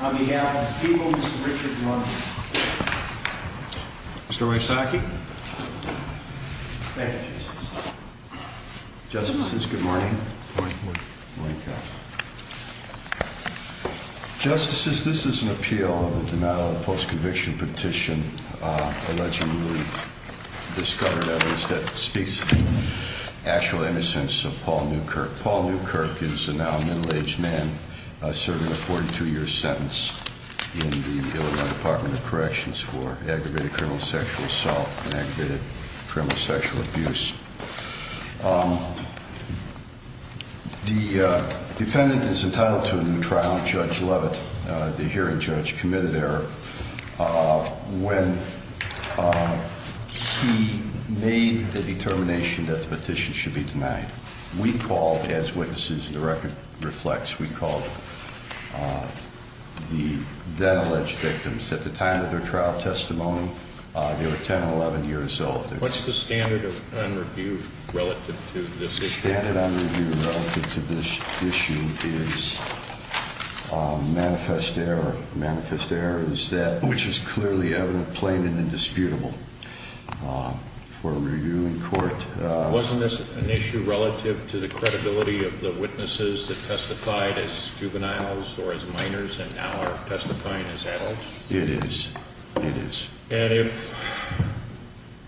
On behalf of the people, Mr. Richard Mullen. Mr. Wysocki. Thank you, Justice. Justices, good morning. Good morning, Judge. Justices, this is an appeal of the denial of the post-conviction petition, allegedly discovered evidence that speaks to the actual innocence of Paul Newkirk. Paul Newkirk is a now middle-aged man serving a 42-year sentence in the Illinois Department of Corrections for aggravated criminal sexual assault and aggravated criminal sexual abuse. The defendant is entitled to a new trial. Judge Leavitt, the hearing judge, committed error when he made the determination that the petition should be denied. We called, as witnesses and the record reflects, we called the then-alleged victims. At the time of their trial testimony, they were 10 and 11 years old. What's the standard on review relative to this issue? The standard on review relative to this issue is manifest error. Manifest error is that which is clearly evident, plain, and indisputable for review in court. Wasn't this an issue relative to the credibility of the witnesses that testified as juveniles or as minors and now are testifying as adults? It is. It is. And if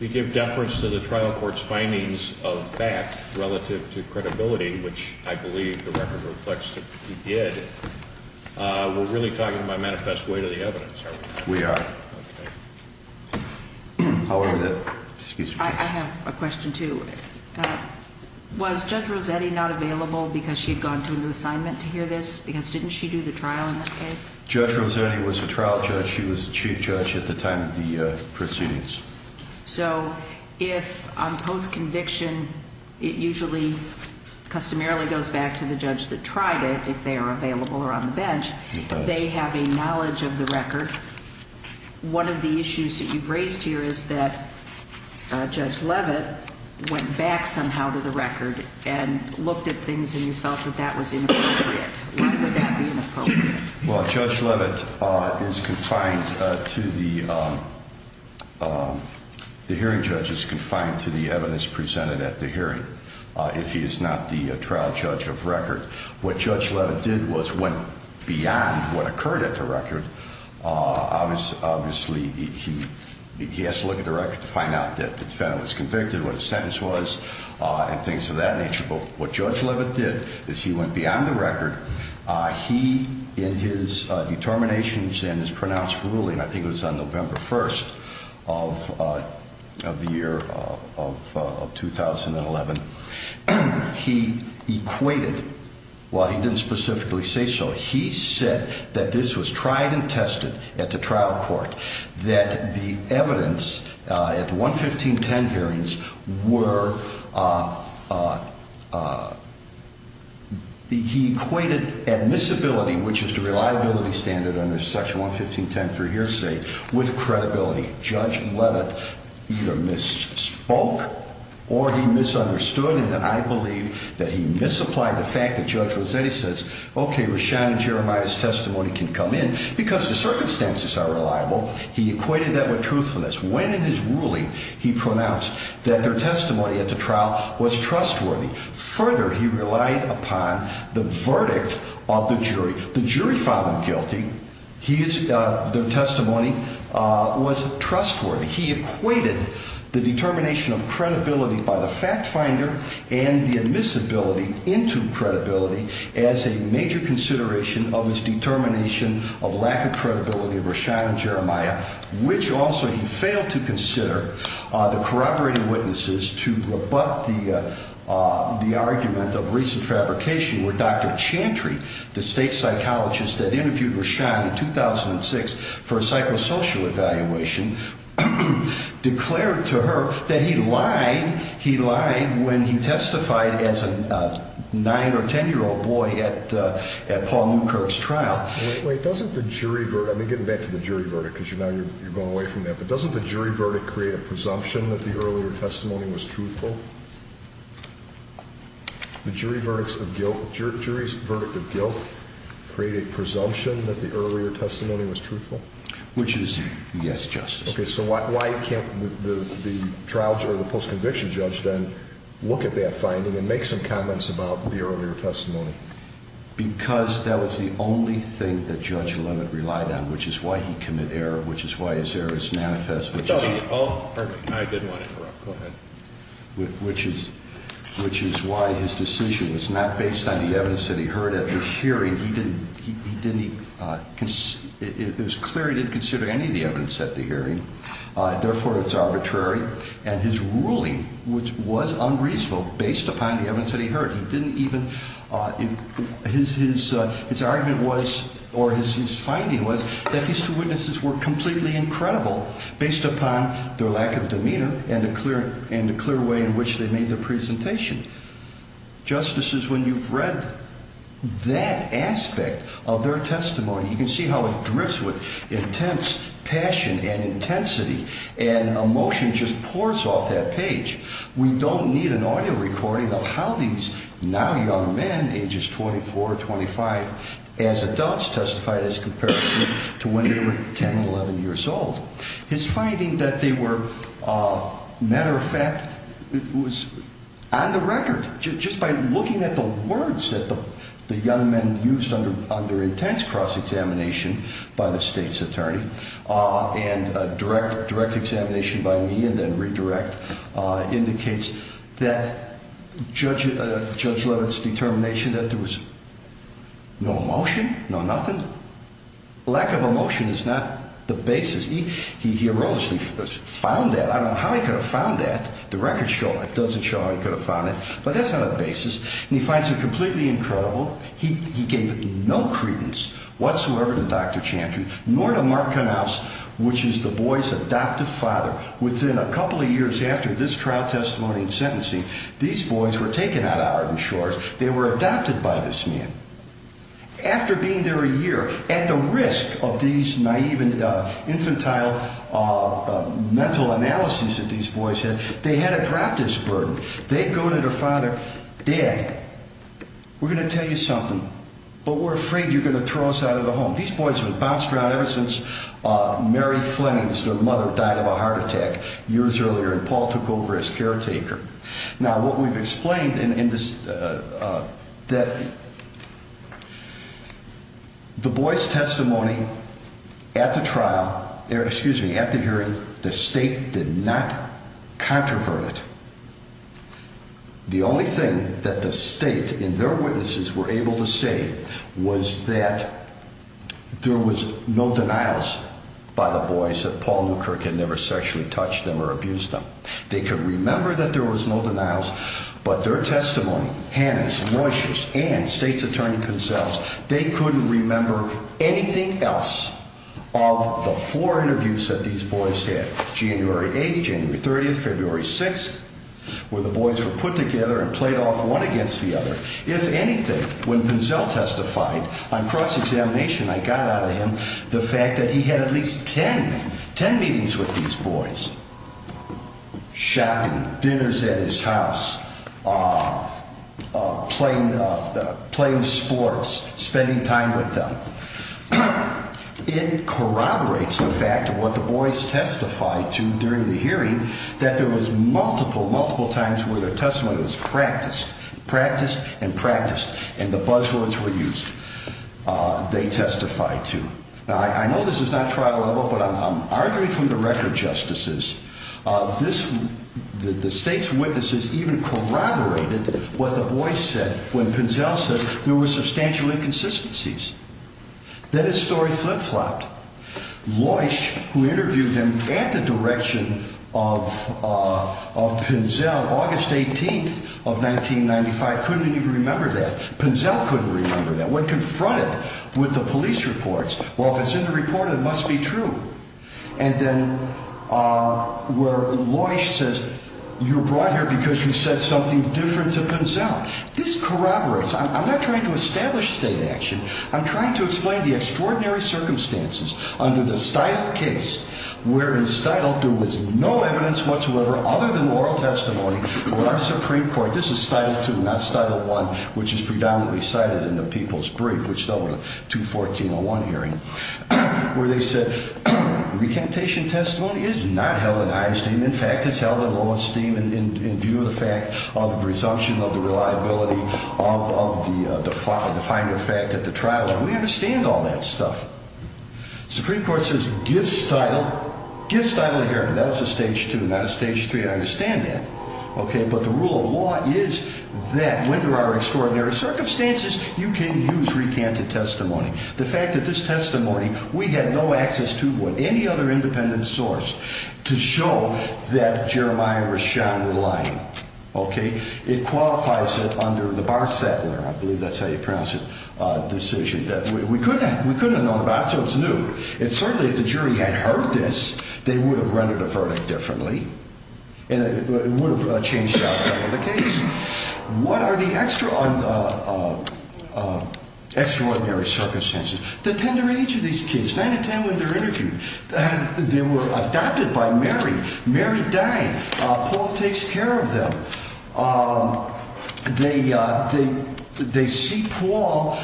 we give deference to the trial court's findings of fact relative to credibility, which I believe the record reflects that we did, we're really talking about manifest weight of the evidence, are we not? We are. Okay. I have a question, too. Was Judge Rossetti not available because she had gone to a new assignment to hear this? Because didn't she do the trial in this case? Judge Rossetti was a trial judge. She was the chief judge at the time of the proceedings. So if on post-conviction it usually customarily goes back to the judge that tried it, if they are available or on the bench, they have a knowledge of the record. One of the issues that you've raised here is that Judge Leavitt went back somehow to the record and looked at things and you felt that that was inappropriate. Why would that be inappropriate? Well, Judge Leavitt is confined to the hearing judge is confined to the evidence presented at the hearing if he is not the trial judge of record. What Judge Leavitt did was went beyond what occurred at the record. Obviously, he has to look at the record to find out that the defendant was convicted, what his sentence was, and things of that nature. But what Judge Leavitt did is he went beyond the record. He, in his determinations and his pronounced ruling, I think it was on November 1st of the year of 2011, he equated, while he didn't specifically say so, he said that this was tried and tested at the trial court, that the evidence at the 11510 hearings were, he equated admissibility, which is the reliability standard under Section 11510 for hearsay, with credibility. Judge Leavitt either misspoke or he misunderstood, and I believe that he misapplied the fact that Judge Rossetti says, okay, Rashan and Jeremiah's testimony can come in because the circumstances are reliable. He equated that with truthfulness. When in his ruling, he pronounced that their testimony at the trial was trustworthy. Further, he relied upon the verdict of the jury. The jury found him guilty. Their testimony was trustworthy. He equated the determination of credibility by the fact finder and the admissibility into credibility as a major consideration of his determination of lack of credibility of Rashan and Jeremiah, which also he failed to consider the corroborating witnesses to rebut the argument of recent fabrication where Dr. Chantry, the state psychologist that interviewed Rashan in 2006 for a psychosocial evaluation, declared to her that he lied. He lied when he testified as a 9 or 10-year-old boy at Paul Newkirk's trial. Wait, doesn't the jury verdict, let me get back to the jury verdict because now you're going away from that, but doesn't the jury verdict create a presumption that the earlier testimony was truthful? The jury verdict of guilt created a presumption that the earlier testimony was truthful? Which is, yes, Justice. Okay, so why can't the trial or the post-conviction judge then look at that finding and make some comments about the earlier testimony? Because that was the only thing that Judge Leavitt relied on, which is why he commit error, which is why his error is manifest. Oh, perfect. I didn't want to interrupt. Go ahead. Which is why his decision was not based on the evidence that he heard at the hearing. It was clear he didn't consider any of the evidence at the hearing. Therefore, it's arbitrary. And his ruling was unreasonable based upon the evidence that he heard. His argument was, or his finding was, that these two witnesses were completely incredible based upon their lack of demeanor and the clear way in which they made their presentation. Justices, when you've read that aspect of their testimony, you can see how it drifts with intense passion and intensity, and emotion just pours off that page. We don't need an audio recording of how these now young men, ages 24 or 25 as adults, testified as compared to when they were 10 and 11 years old. His finding that they were, matter of fact, was on the record. Just by looking at the words that the young men used under intense cross-examination by the State's attorney and direct examination by me and then redirect, indicates that Judge Levin's determination that there was no emotion, no nothing. Lack of emotion is not the basis. He erroneously found that. I don't know how he could have found that. The record doesn't show how he could have found it, but that's not a basis. And he finds them completely incredible. He gave no credence whatsoever to Dr. Chantry, nor to Mark Knauss, which is the boy's adoptive father. Within a couple of years after this trial testimony and sentencing, these boys were taken out of Arden Shores. They were adopted by this man. After being there a year, at the risk of these naive infantile mental analyses that these boys had, they had to drop this burden. They go to their father, Dad, we're going to tell you something, but we're afraid you're going to throw us out of the home. These boys were bounced around ever since Mary Flemings, their mother, died of a heart attack years earlier and Paul took over as caretaker. Now, what we've explained in this, that the boy's testimony at the trial, excuse me, at the hearing, the state did not controvert it. The only thing that the state and their witnesses were able to say was that there was no denials by the boys that Paul Newkirk had never sexually touched them or abused them. They could remember that there was no denials, but their testimony, Hanna's, Moishe's, and State's Attorney Pinzell's, they couldn't remember anything else of the four interviews that these boys had. January 8th, January 30th, February 6th, where the boys were put together and played off one against the other. If anything, when Pinzell testified on cross-examination, I got out of him the fact that he had at least 10 meetings with these boys. Shopping, dinners at his house, playing sports, spending time with them. It corroborates the fact of what the boys testified to during the hearing, that there was multiple, multiple times where their testimony was practiced, practiced and practiced, and the buzzwords were used. They testified to. Now, I know this is not trial level, but I'm arguing from the record, Justices. The State's witnesses even corroborated what the boys said when Pinzell said there were substantial inconsistencies. Then his story flip-flopped. Moishe, who interviewed him at the direction of Pinzell, August 18th of 1995, couldn't even remember that. Pinzell couldn't remember that. When confronted with the police reports, well, if it's in the report, it must be true. And then where Moishe says, you're brought here because you said something different to Pinzell. This corroborates. I'm not trying to establish state action. I'm trying to explain the extraordinary circumstances under the Stidle case, where in Stidle there was no evidence whatsoever other than oral testimony from the Supreme Court. This is Stidle 2, not Stidle 1, which is predominantly cited in the People's Brief, which dealt with the 2014-01 hearing. Where they said recantation testimony is not held in high esteem. In fact, it's held in low esteem in view of the fact of the presumption of the reliability of the finding of fact at the trial. And we understand all that stuff. Supreme Court says give Stidle a hearing. That's a Stage 2, not a Stage 3. I understand that. But the rule of law is that when there are extraordinary circumstances, you can use recanted testimony. The fact that this testimony, we had no access to it, any other independent source, to show that Jeremiah Rashad was lying. Okay? It qualifies it under the Barstett law. I believe that's how you pronounce it, decision. We couldn't have known about it, so it's new. And certainly if the jury had heard this, they would have rendered the verdict differently. And it would have changed the outcome of the case. What are the extraordinary circumstances? The tender age of these kids, 9 to 10 when they're interviewed. They were adopted by Mary. Mary died. Paul takes care of them. They see Paul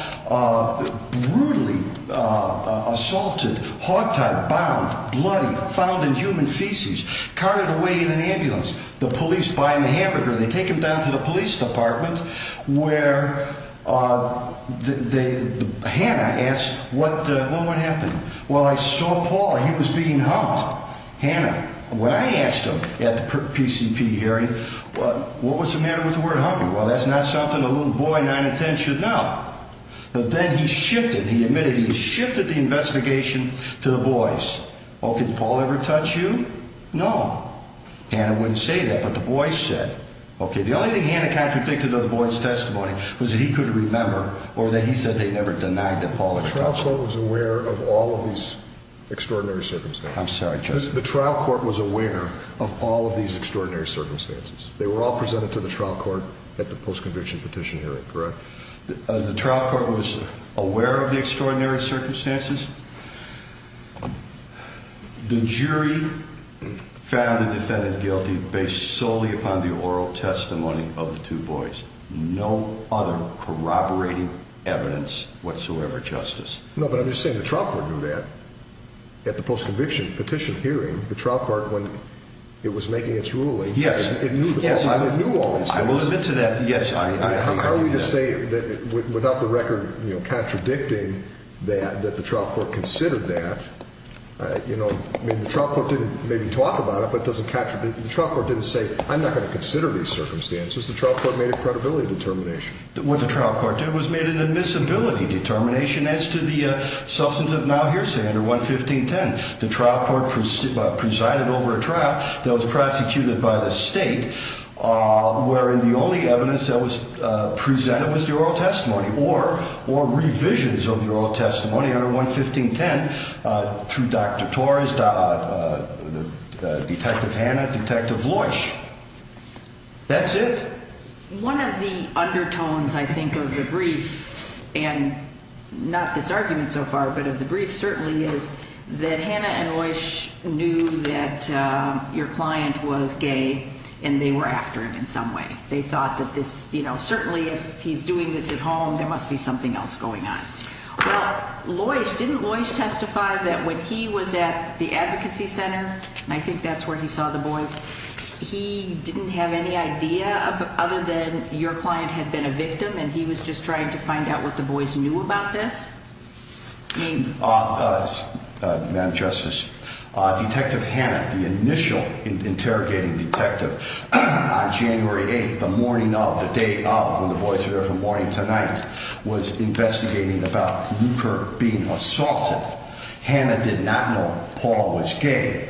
brutally assaulted, hogtied, bound, bloody, found in human feces, carted away in an ambulance. The police buy him a hamburger. They take him down to the police department where Hannah asked, well, what happened? Well, I saw Paul. He was being humped. Hannah, when I asked him at the PCP hearing, what was the matter with the word humping? Well, that's not something a little boy 9 to 10 should know. But then he shifted. He admitted he shifted the investigation to the boys. Well, can Paul ever touch you? No. Hannah wouldn't say that, but the boys said, okay, the only thing Hannah contradicted of the boys' testimony was that he couldn't remember or that he said they never denied that Paul had touched them. The trial court was aware of all of these extraordinary circumstances. I'm sorry, Justice. The trial court was aware of all of these extraordinary circumstances. They were all presented to the trial court at the post-conviction petition hearing, correct? The trial court was aware of the extraordinary circumstances. The jury found the defendant guilty based solely upon the oral testimony of the two boys. No other corroborating evidence whatsoever, Justice. No, but I'm just saying the trial court knew that. At the post-conviction petition hearing, the trial court, when it was making its ruling, it knew all these things. I will admit to that, yes. Are we to say that without the record contradicting that the trial court considered that? I mean, the trial court didn't maybe talk about it, but the trial court didn't say, I'm not going to consider these circumstances. The trial court made a credibility determination. What did the trial court do? It was made an admissibility determination as to the substance of now hearsay under 11510. The trial court presided over a trial that was prosecuted by the state, wherein the only evidence that was presented was the oral testimony, or revisions of the oral testimony under 11510 through Dr. Torres, Detective Hanna, Detective Loish. That's it. One of the undertones, I think, of the briefs, and not this argument so far, but of the briefs certainly, is that Hanna and Loish knew that your client was gay, and they were after him in some way. They thought that this, you know, certainly if he's doing this at home, there must be something else going on. Well, Loish, didn't Loish testify that when he was at the advocacy center, and I think that's where he saw the boys, that he didn't have any idea other than your client had been a victim, and he was just trying to find out what the boys knew about this? Madam Justice, Detective Hanna, the initial interrogating detective, on January 8th, the morning of, the day of, when the boys were there from morning to night, was investigating about Luker being assaulted. Hanna did not know Paul was gay.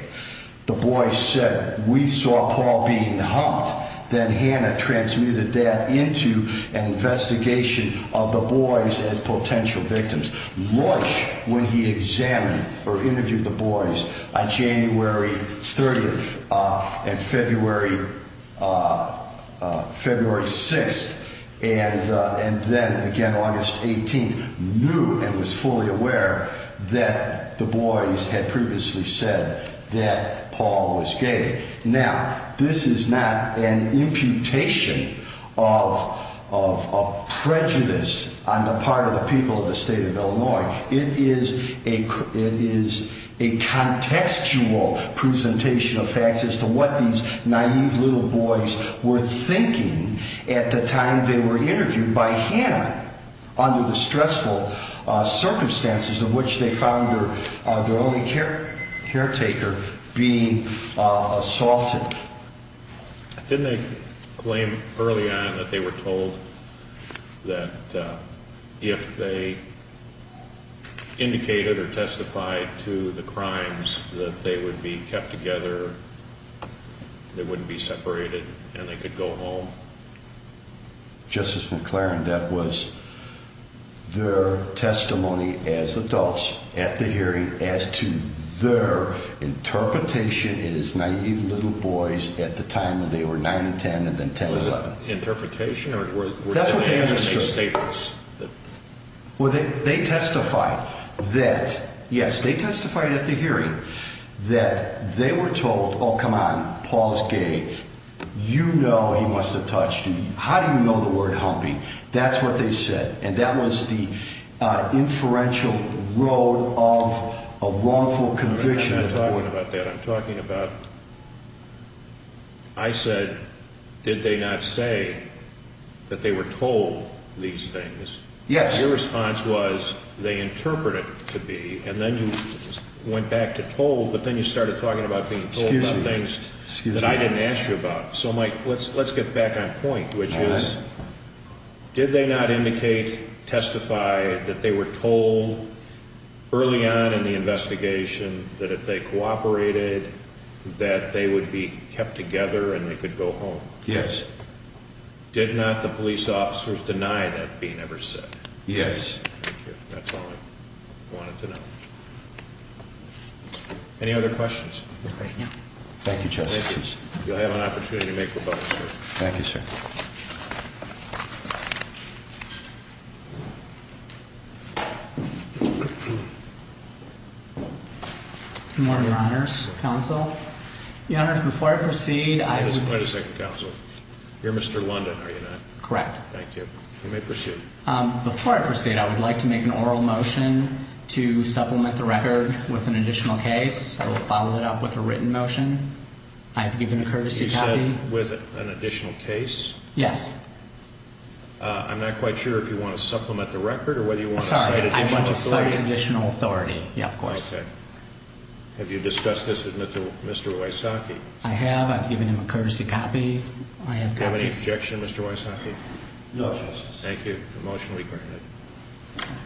The boys said, we saw Paul being humped. Then Hanna transmitted that into an investigation of the boys as potential victims. Loish, when he examined or interviewed the boys on January 30th and February 6th, and then again August 18th, knew and was fully aware that the boys had previously said that Paul was gay. Now, this is not an imputation of prejudice on the part of the people of the state of Illinois. It is a contextual presentation of facts as to what these naive little boys were thinking at the time they were interviewed by Hanna, under the stressful circumstances in which they found their only caretaker being assaulted. Didn't they claim early on that they were told that if they indicated or testified to the crimes, that they would be kept together, they wouldn't be separated, and they could go home? Justice McClaren, that was their testimony as adults at the hearing, as to their interpretation as naive little boys at the time that they were 9 and 10 and then 10 and 11. Was it interpretation or were they agency statements? Well, they testified that, yes, they testified at the hearing that they were told, oh, come on, Paul is gay, you know he must have touched you. How do you know the word humping? That's what they said, and that was the inferential road of a wrongful conviction. I'm not talking about that. I'm talking about, I said, did they not say that they were told these things? Yes. Your response was, they interpreted it to be, and then you went back to told, but then you started talking about being told about things that I didn't ask you about. So, Mike, let's get back on point, which is, did they not indicate, testify, that they were told early on in the investigation that if they cooperated, that they would be kept together and they could go home? Yes. Did not the police officers deny that being ever said? Yes. Thank you. That's all I wanted to know. Any other questions? No. Thank you, Justice. You'll have an opportunity to make rebuttals here. Thank you, sir. Good morning, Your Honors. Counsel. Your Honors, before I proceed, I would. Wait a second, Counsel. You're Mr. London, are you not? Correct. Thank you. You may proceed. Before I proceed, I would like to make an oral motion to supplement the record with an additional case. I will follow it up with a written motion. I have given a courtesy copy. You said with an additional case? Yes. I'm not quite sure if you want to supplement the record or whether you want to cite additional authority. Sorry, I want to cite additional authority. Yeah, of course. Okay. Have you discussed this with Mr. Wysocki? I have. I've given him a courtesy copy. Do you have any objection, Mr. Wysocki? No, Justice. Thank you. The motion will be granted.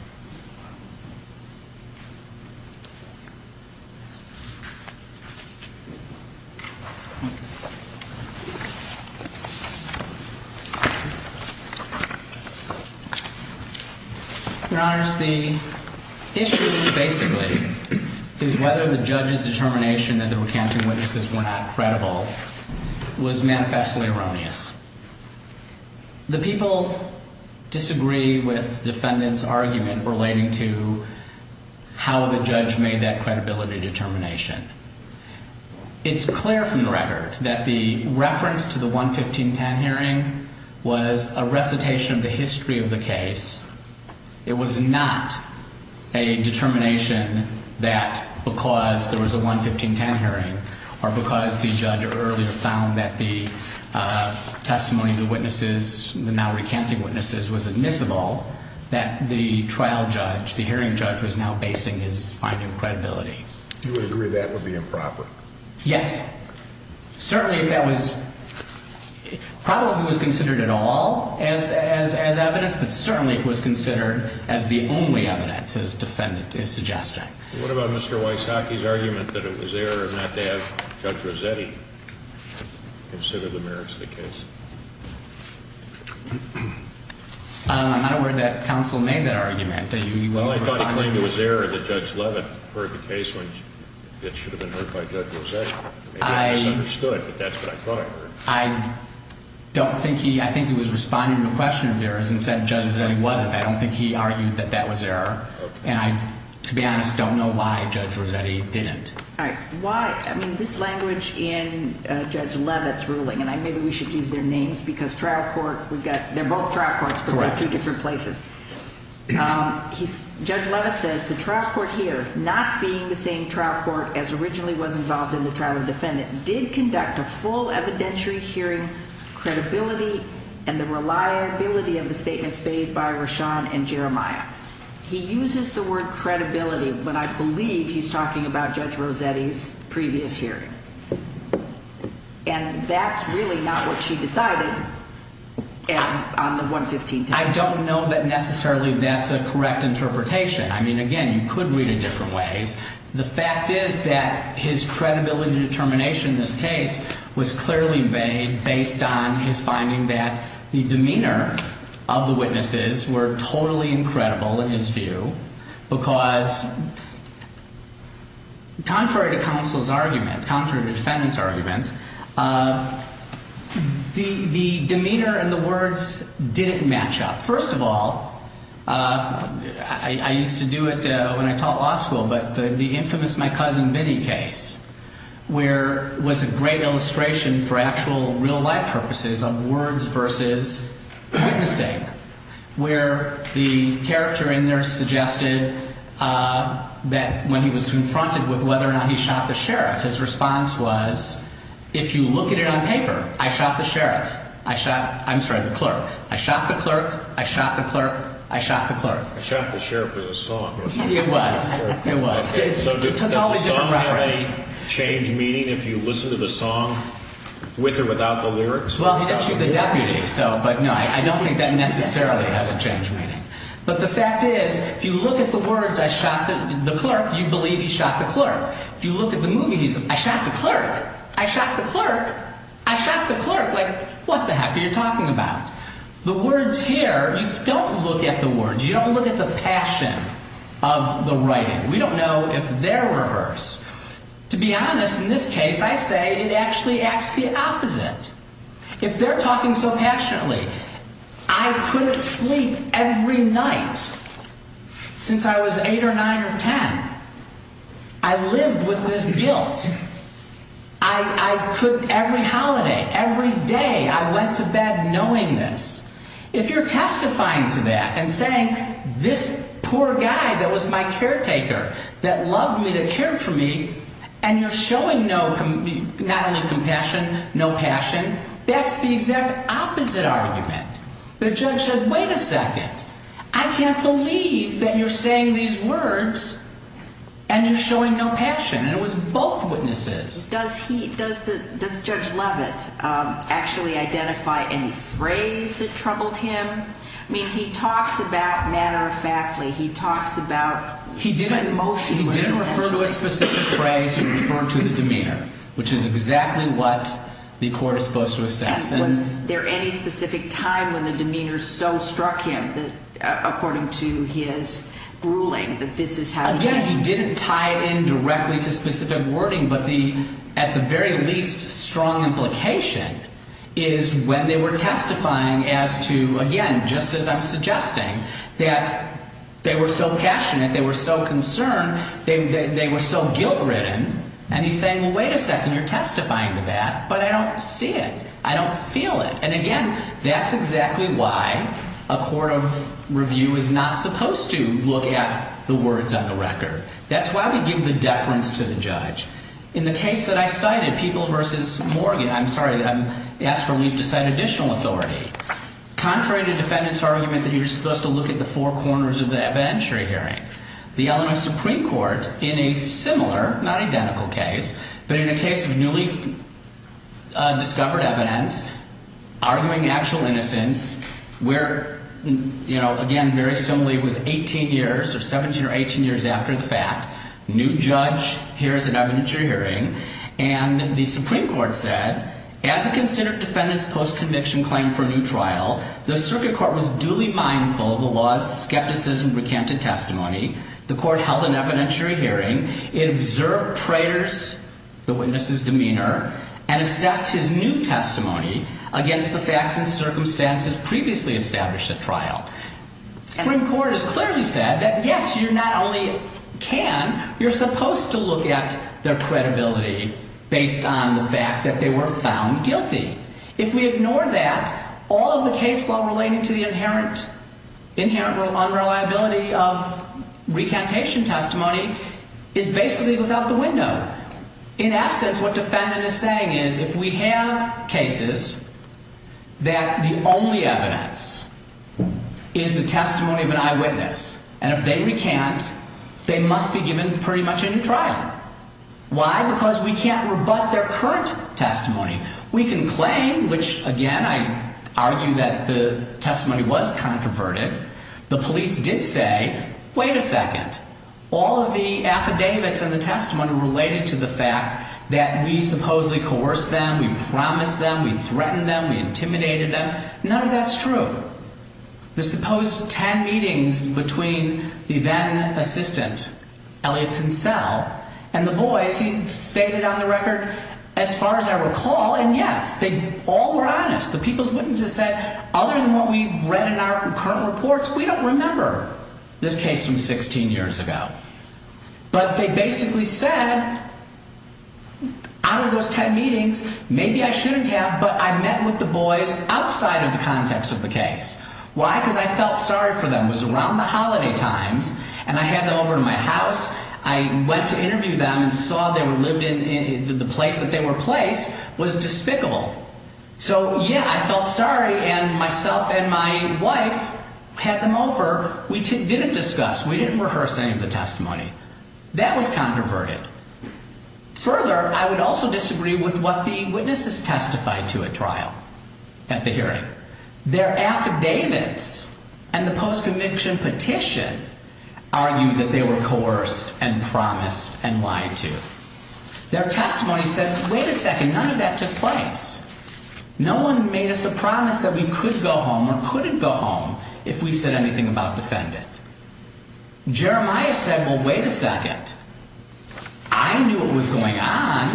Your Honors, the issue, basically, is whether the judge's determination that the recanting witnesses were not credible was manifestly erroneous. The people disagree with the defendant's argument relating to how the judge made that credibility determination. It's clear from the record that the reference to the 11510 hearing was a recitation of the history of the case. It was not a determination that because there was a 11510 hearing or because the judge earlier found that the testimony of the witnesses, the now recanting witnesses, was admissible, that the trial judge, the hearing judge, was now basing his finding of credibility. You would agree that would be improper? Yes. Certainly if that was – probably if it was considered at all as evidence, but certainly if it was considered as the only evidence, as the defendant is suggesting. What about Mr. Wysocki's argument that it was error not to have Judge Rossetti consider the merits of the case? I'm not aware that counsel made that argument. Well, I thought he claimed it was error that Judge Leavitt heard the case that should have been heard by Judge Rossetti. I misunderstood, but that's what I thought I heard. I don't think he – I think he was responding to a question of errors and said Judge Rossetti wasn't. I don't think he argued that that was error. Okay. And I, to be honest, don't know why Judge Rossetti didn't. All right. Why – I mean, this language in Judge Leavitt's ruling – and maybe we should use their names because trial court – we've got – they're both trial courts, but they're two different places. Correct. He – Judge Leavitt says the trial court here, not being the same trial court as originally was involved in the trial of the defendant, did conduct a full evidentiary hearing, credibility, and the reliability of the statements made by Rashawn and Jeremiah. He uses the word credibility, but I believe he's talking about Judge Rossetti's previous hearing. And that's really not what she decided on the 115th day. I don't know that necessarily that's a correct interpretation. I mean, again, you could read it different ways. The fact is that his credibility determination in this case was clearly made based on his finding that the demeanor of the witnesses were totally incredible in his view, because contrary to counsel's argument, contrary to the defendant's argument, the demeanor and the words didn't match up. First of all, I used to do it when I taught law school, but the infamous My Cousin Vinnie case, where it was a great illustration for actual real-life purposes of words versus witnessing, where the character in there suggested that when he was confronted with whether or not he shot the sheriff, his response was, if you look at it on paper, I shot the sheriff. I shot – I'm sorry, the clerk. I shot the clerk. I shot the clerk. I shot the clerk. I shot the sheriff with a song. It was. It was. So does the song change meaning if you listen to the song with or without the lyrics? Well, he did shoot the deputy, so, but no, I don't think that necessarily has a change meaning. But the fact is, if you look at the words, I shot the clerk, you believe he shot the clerk. If you look at the movie, he's, I shot the clerk. I shot the clerk. I shot the clerk. Like, what the heck are you talking about? The words here, you don't look at the words. You don't look at the passion of the writing. We don't know if they're rehearsed. To be honest, in this case, I'd say it actually acts the opposite. If they're talking so passionately, I couldn't sleep every night since I was eight or nine or ten. I lived with this guilt. I could every holiday, every day, I went to bed knowing this. If you're testifying to that and saying this poor guy that was my caretaker, that loved me, that cared for me, and you're showing not only compassion, no passion, that's the exact opposite argument. The judge said, wait a second, I can't believe that you're saying these words and you're showing no passion. And it was both witnesses. Does Judge Leavitt actually identify any phrase that troubled him? I mean, he talks about manner of faculty. He talks about emotion. He didn't refer to a specific phrase. He referred to the demeanor, which is exactly what the court is supposed to assess. And was there any specific time when the demeanor so struck him that, according to his ruling, that this is how he felt? Again, he didn't tie it in directly to specific wording. But at the very least, strong implication is when they were testifying as to, again, just as I'm suggesting, that they were so passionate, they were so concerned, they were so guilt-ridden. And he's saying, well, wait a second, you're testifying to that, but I don't see it. I don't feel it. And again, that's exactly why a court of review is not supposed to look at the words on the record. That's why we give the deference to the judge. In the case that I cited, People v. Morgan, I'm sorry, I asked for Leavitt to cite additional authority. Contrary to defendants' argument that you're supposed to look at the four corners of the evidentiary hearing, the Illinois Supreme Court, in a similar, not identical case, but in a case of newly discovered evidence, arguing actual innocence, where, again, very similarly, it was 18 years or 17 or 18 years after the fact, new judge hears an evidentiary hearing. And the Supreme Court said, as a considered defendant's post-conviction claim for a new trial, the circuit court was duly mindful of the law's skepticism-recanted testimony. The court held an evidentiary hearing. It observed Prater's, the witness's, demeanor and assessed his new testimony against the facts and circumstances previously established at trial. The Supreme Court has clearly said that, yes, you not only can, you're supposed to look at their credibility based on the fact that they were found guilty. If we ignore that, all of the case law relating to the inherent unreliability of recantation testimony is basically without the window. In essence, what defendant is saying is, if we have cases that the only evidence is the testimony of an eyewitness, and if they recant, they must be given pretty much a new trial. Why? Because we can't rebut their current testimony. We can claim, which, again, I argue that the testimony was controverted. The police did say, wait a second. All of the affidavits in the testimony related to the fact that we supposedly coerced them, we promised them, we threatened them, we intimidated them. None of that's true. The supposed ten meetings between the then-assistant, Elliot Pincel, and the boys, he stated on the record, as far as I recall, and yes, they all were honest. The people's witnesses said, other than what we've read in our current reports, we don't remember this case from 16 years ago. But they basically said, out of those ten meetings, maybe I shouldn't have, but I met with the boys outside of the context of the case. Why? Because I felt sorry for them. It was around the holiday times, and I had them over to my house. I went to interview them and saw they were lived in, the place that they were placed was despicable. So, yeah, I felt sorry, and myself and my wife had them over. We didn't discuss, we didn't rehearse any of the testimony. That was controverted. Further, I would also disagree with what the witnesses testified to at trial, at the hearing. Their affidavits and the post-conviction petition argued that they were coerced and promised and lied to. Their testimony said, wait a second, none of that took place. No one made us a promise that we could go home or couldn't go home if we said anything about defendant. Jeremiah said, well, wait a second. I knew what was going on.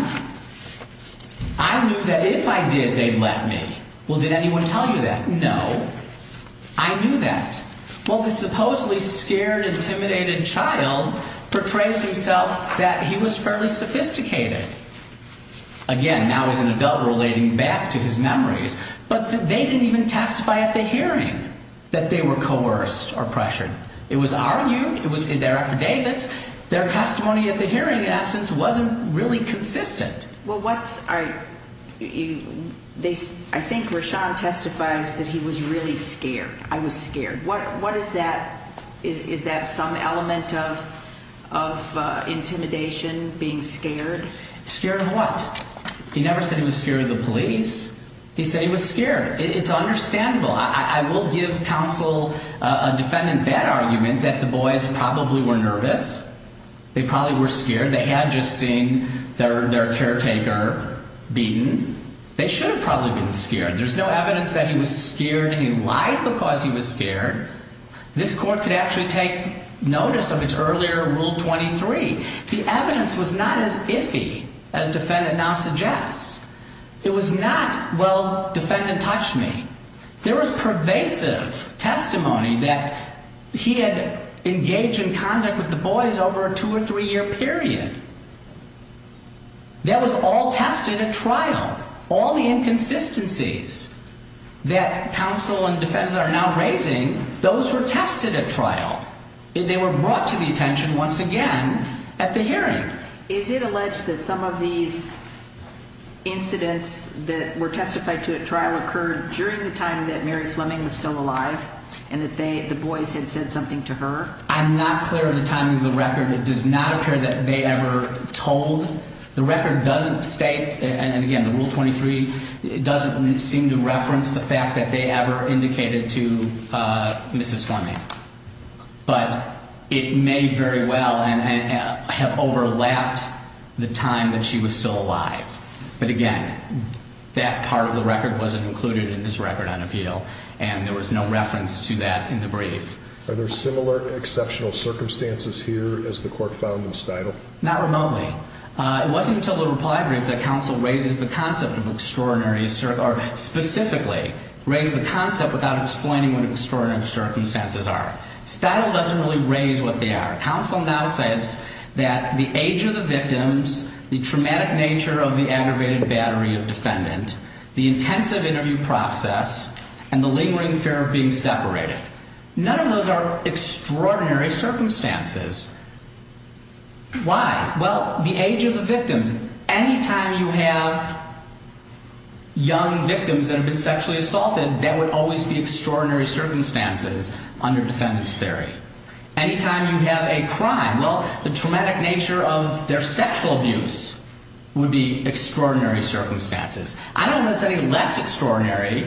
I knew that if I did, they'd let me. Well, did anyone tell you that? No. I knew that. Well, the supposedly scared, intimidated child portrays himself that he was fairly sophisticated. Again, now he's an adult relating back to his memories. But they didn't even testify at the hearing that they were coerced or pressured. It was argued, it was in their affidavits, their testimony at the hearing, in essence, wasn't really consistent. Well, I think Rashaan testifies that he was really scared. I was scared. What is that? Is that some element of intimidation, being scared? Scared of what? He never said he was scared of the police. He said he was scared. It's understandable. I will give counsel a defendant that argument, that the boys probably were nervous. They probably were scared. They had just seen their caretaker beaten. They should have probably been scared. There's no evidence that he was scared and he lied because he was scared. This court could actually take notice of its earlier Rule 23. The evidence was not as iffy as defendant now suggests. It was not, well, defendant touched me. There was pervasive testimony that he had engaged in conduct with the boys over a two- or three-year period. That was all tested at trial. All the inconsistencies that counsel and defense are now raising, those were tested at trial. They were brought to the attention once again at the hearing. Is it alleged that some of these incidents that were testified to at trial occurred during the time that Mary Fleming was still alive and that the boys had said something to her? I'm not clear of the timing of the record. It does not appear that they ever told. The record doesn't state, and again, the Rule 23 doesn't seem to reference the fact that they ever indicated to Mrs. Fleming. But it may very well have overlapped the time that she was still alive. But again, that part of the record wasn't included in this record on appeal, and there was no reference to that in the brief. Are there similar exceptional circumstances here, as the court found in Stidle? Not remotely. It wasn't until the reply brief that counsel raises the concept of extraordinary, or specifically raised the concept without explaining what extraordinary circumstances are. Stidle doesn't really raise what they are. Counsel now says that the age of the victims, the traumatic nature of the aggravated battery of defendant, the intensive interview process, and the lingering fear of being separated. None of those are extraordinary circumstances. Why? Well, the age of the victims. Any time you have young victims that have been sexually assaulted, that would always be extraordinary circumstances under defendant's theory. Any time you have a crime, well, the traumatic nature of their sexual abuse would be extraordinary circumstances. I don't know if it's any less extraordinary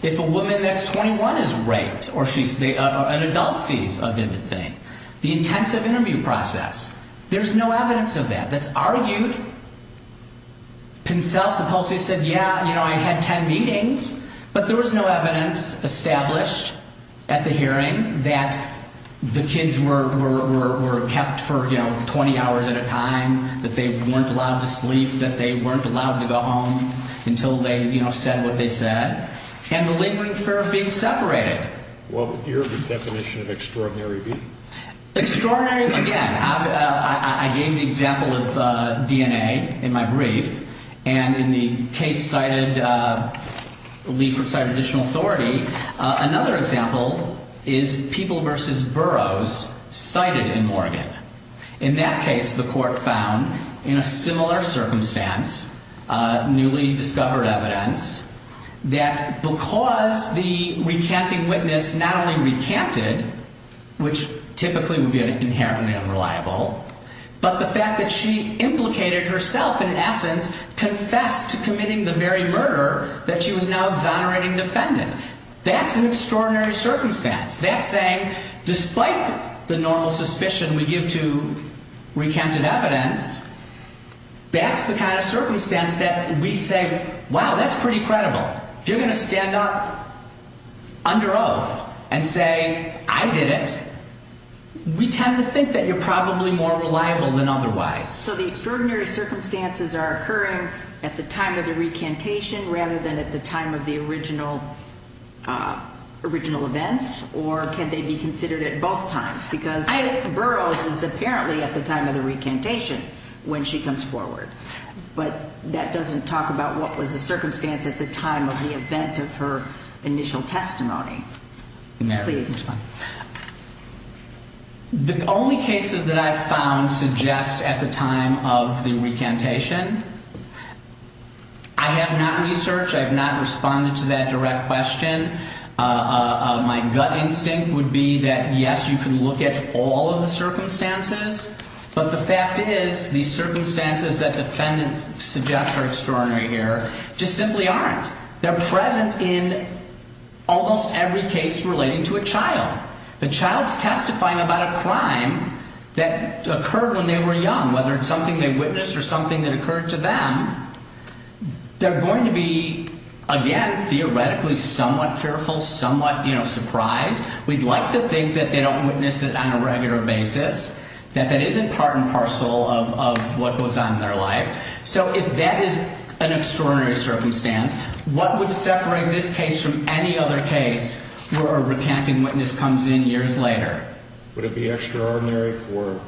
if a woman that's 21 is raped, or an adult sees a vivid thing. The intensive interview process, there's no evidence of that. That's argued. Pincel supposedly said, yeah, you know, I had 10 meetings, but there was no evidence established at the hearing that the kids were kept for, you know, 20 hours at a time, that they weren't allowed to sleep, that they weren't allowed to go home until they, you know, said what they said, and the lingering fear of being separated. What would your definition of extraordinary be? Extraordinary, again, I gave the example of DNA in my brief, and in the case cited, Leeford cited additional authority. Another example is people versus boroughs cited in Morgan. In that case, the court found, in a similar circumstance, newly discovered evidence, that because the recanting witness not only recanted, which typically would be an inherently unreliable, but the fact that she implicated herself in essence confessed to committing the very murder that she was now exonerating defendant. That's an extraordinary circumstance. That's saying, despite the normal suspicion we give to recanted evidence, that's the kind of circumstance that we say, wow, that's pretty credible. If you're going to stand up under oath and say, I did it, we tend to think that you're probably more reliable than otherwise. So the extraordinary circumstances are occurring at the time of the recantation rather than at the time of the original events, or can they be considered at both times? Because Burroughs is apparently at the time of the recantation when she comes forward, but that doesn't talk about what was the circumstance at the time of the event of her initial testimony. Please. The only cases that I've found suggest at the time of the recantation. I have not researched, I have not responded to that direct question. My gut instinct would be that, yes, you can look at all of the circumstances, but the fact is these circumstances that defendants suggest are extraordinary here just simply aren't. They're present in almost every case relating to a child. The child's testifying about a crime that occurred when they were young, whether it's something they witnessed or something that occurred to them, they're going to be, again, theoretically somewhat fearful, somewhat surprised. We'd like to think that they don't witness it on a regular basis, that that isn't part and parcel of what goes on in their life. So if that is an extraordinary circumstance, what would separate this case from any other case where a recanting witness comes in years later? Would it be extraordinary for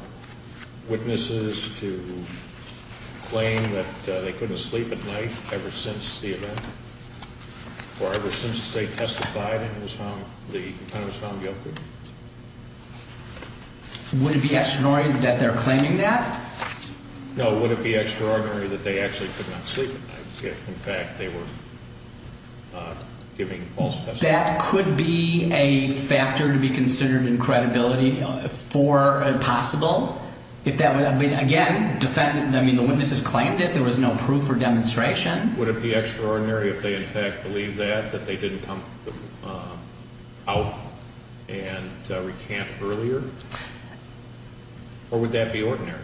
witnesses to claim that they couldn't sleep at night ever since the event or ever since they testified in the time it was found guilty? Would it be extraordinary that they're claiming that? No, would it be extraordinary that they actually could not sleep at night if, in fact, they were giving false testimony? That could be a factor to be considered in credibility for possible. Again, the witnesses claimed it. There was no proof or demonstration. Would it be extraordinary if they, in fact, believed that, that they didn't come out and recant earlier? Or would that be ordinary?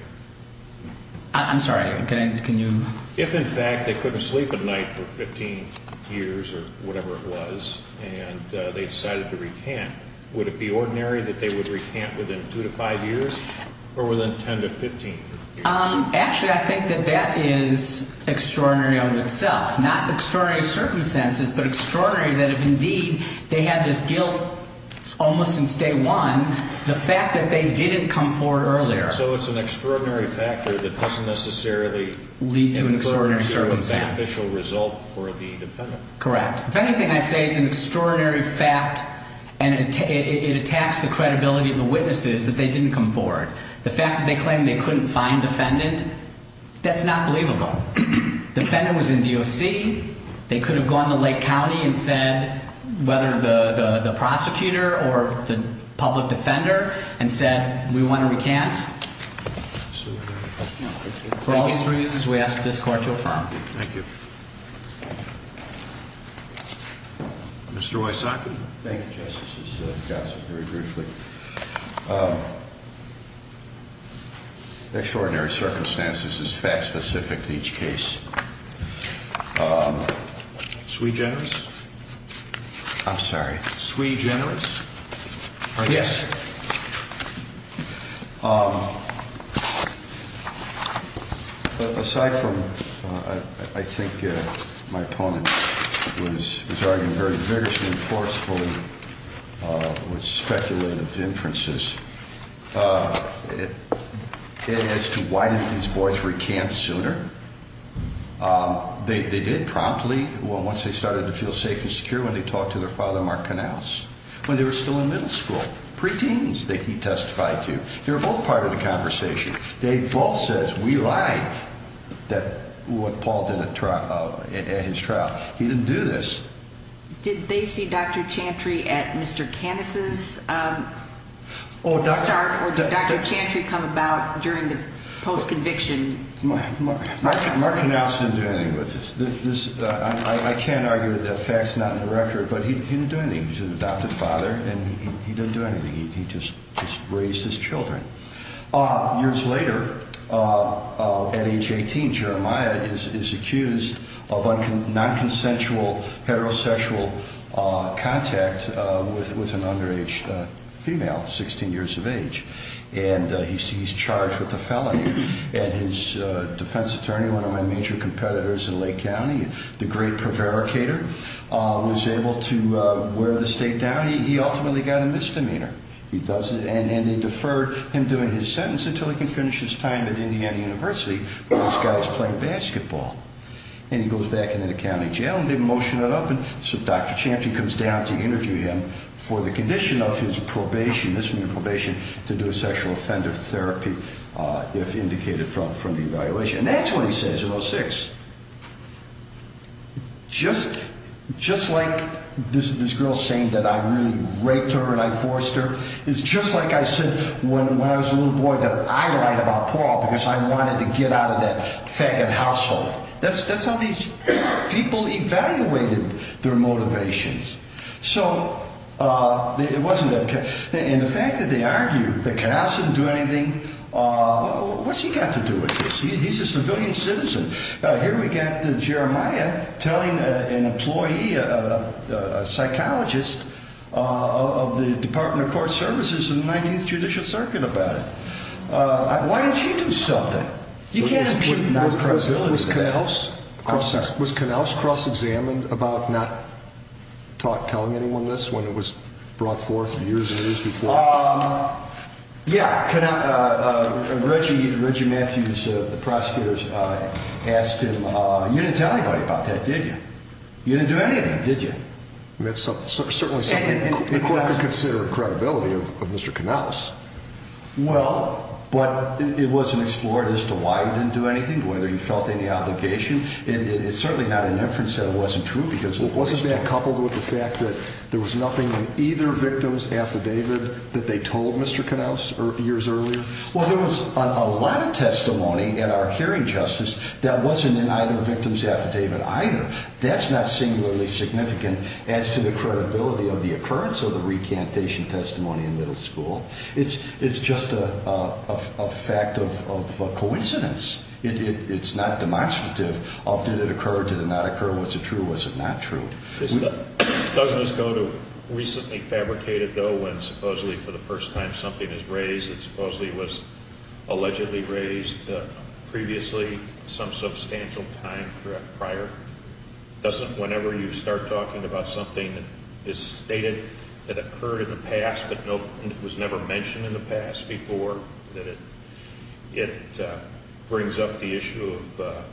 I'm sorry, can you? If, in fact, they couldn't sleep at night for 15 years or whatever it was and they decided to recant, would it be ordinary that they would recant within 2 to 5 years or within 10 to 15 years? Actually, I think that that is extraordinary on itself, not extraordinary circumstances, but extraordinary that if, indeed, they had this guilt almost since day one, the fact that they didn't come forward earlier. So it's an extraordinary factor that doesn't necessarily include a beneficial result for the defendant. Correct. If anything, I'd say it's an extraordinary fact and it attacks the credibility of the witnesses that they didn't come forward. The fact that they claimed they couldn't find defendant, that's not believable. Defendant was in DOC. They could have gone to Lake County and said whether the prosecutor or the public defender and said, we want to recant. For all these reasons, we ask this Court to affirm. Thank you. Mr. Wysocki. Thank you, Justice. This is gossip very briefly. Extraordinary circumstances is fact specific to each case. Sui generis? I'm sorry. Sui generis? Yes. Aside from I think my opponent was arguing very vigorously and forcefully with speculative inferences as to why didn't these boys recant sooner. They did promptly. Well, once they started to feel safe and secure when they talked to their father, Mark Knauss, when they were still in middle school, preteens that he testified to. They were both part of the conversation. They both said, we lied, what Paul did at his trial. He didn't do this. Did they see Dr. Chantry at Mr. Canis' start or did Dr. Chantry come about during the post-conviction process? Mark Knauss didn't do anything with this. I can't argue that fact's not in the record, but he didn't do anything. He's an adopted father, and he didn't do anything. He just raised his children. Years later, at age 18, Jeremiah is accused of nonconsensual heterosexual contact with an underage female, 16 years of age, and he's charged with a felony. And his defense attorney, one of my major competitors in Lake County, the great prevaricator, was able to wear the state down. He ultimately got a misdemeanor. And they deferred him doing his sentence until he could finish his time at Indiana University, where these guys play basketball. And he goes back into the county jail, and they motion it up, and so Dr. Chantry comes down to interview him for the condition of his probation, misdemeanor probation, to do a sexual offender therapy if indicated from the evaluation. And that's what he says in 06. Just like this girl saying that I really raped her and I forced her is just like I said when I was a little boy that I lied about Paul because I wanted to get out of that faggot household. That's how these people evaluated their motivations. And the fact that they argued that Canals didn't do anything, what's he got to do with this? He's a civilian citizen. Here we got Jeremiah telling an employee, a psychologist of the Department of Court Services in the 19th Judicial Circuit about it. Why didn't she do something? Was Canals cross-examined about not telling anyone this when it was brought forth years and years before? Yeah. Reggie Matthews, the prosecutor, asked him, you didn't tell anybody about that, did you? You didn't do anything, did you? That's certainly something the court could consider credibility of Mr. Canals. Well, but it wasn't explored as to why he didn't do anything, whether he felt any obligation. It's certainly not an inference that it wasn't true because it wasn't that coupled with the fact that there was nothing in either victim's affidavit that they told Mr. Canals years earlier. Well, there was a lot of testimony in our hearing, Justice, that wasn't in either victim's affidavit either. That's not singularly significant as to the credibility of the occurrence of the recantation testimony in middle school. It's just a fact of coincidence. It's not demonstrative of did it occur, did it not occur, was it true, was it not true. Doesn't this go to recently fabricated, though, when supposedly for the first time something is raised that supposedly was allegedly raised previously some substantial time prior? Doesn't whenever you start talking about something that is stated that occurred in the past but was never mentioned in the past before, that it brings up the issue of a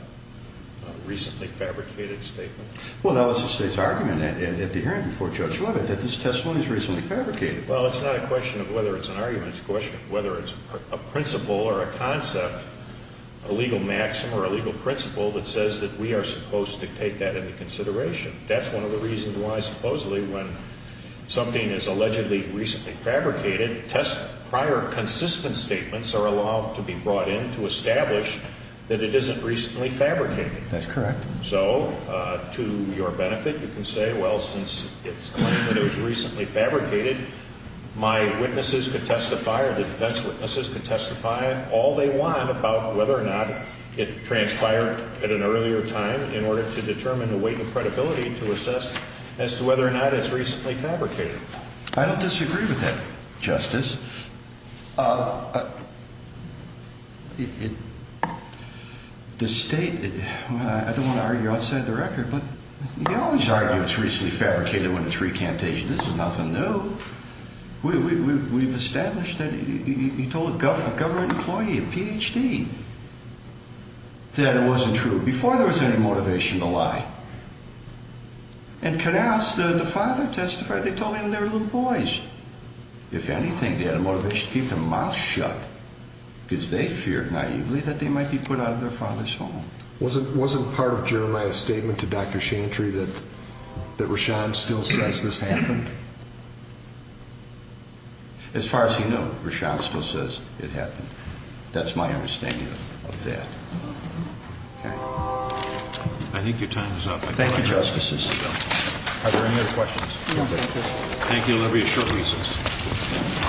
recently fabricated statement? Well, that was the State's argument at the hearing before Judge Levitt that this testimony is recently fabricated. Well, it's not a question of whether it's an argument. It's a question of whether it's a principle or a concept, a legal maxim or a legal principle that says that we are supposed to take that into consideration. That's one of the reasons why supposedly when something is allegedly recently fabricated, prior consistent statements are allowed to be brought in to establish that it isn't recently fabricated. That's correct. So to your benefit, you can say, well, since it's claimed that it was recently fabricated, my witnesses could testify or the defense witnesses could testify all they want about whether or not it transpired at an earlier time in order to determine the weight and credibility to assess as to whether or not it's recently fabricated. I don't disagree with that, Justice. The State, I don't want to argue outside the record, but you can always argue it's recently fabricated when it's recantation. This is nothing new. We've established that. You told a government employee, a Ph.D., that it wasn't true before there was any motivation to lie. And Canals, the father testified, they told him they were little boys. If anything, they had a motivation to keep their mouth shut because they feared naively that they might be put out of their father's home. Wasn't part of Jeremiah's statement to Dr. Chantry that Rashaan still says this happened? As far as he knew, Rashaan still says it happened. That's my understanding of that. I think your time is up. Thank you, Justices. Are there any other questions? Thank you. That'll be a short recess.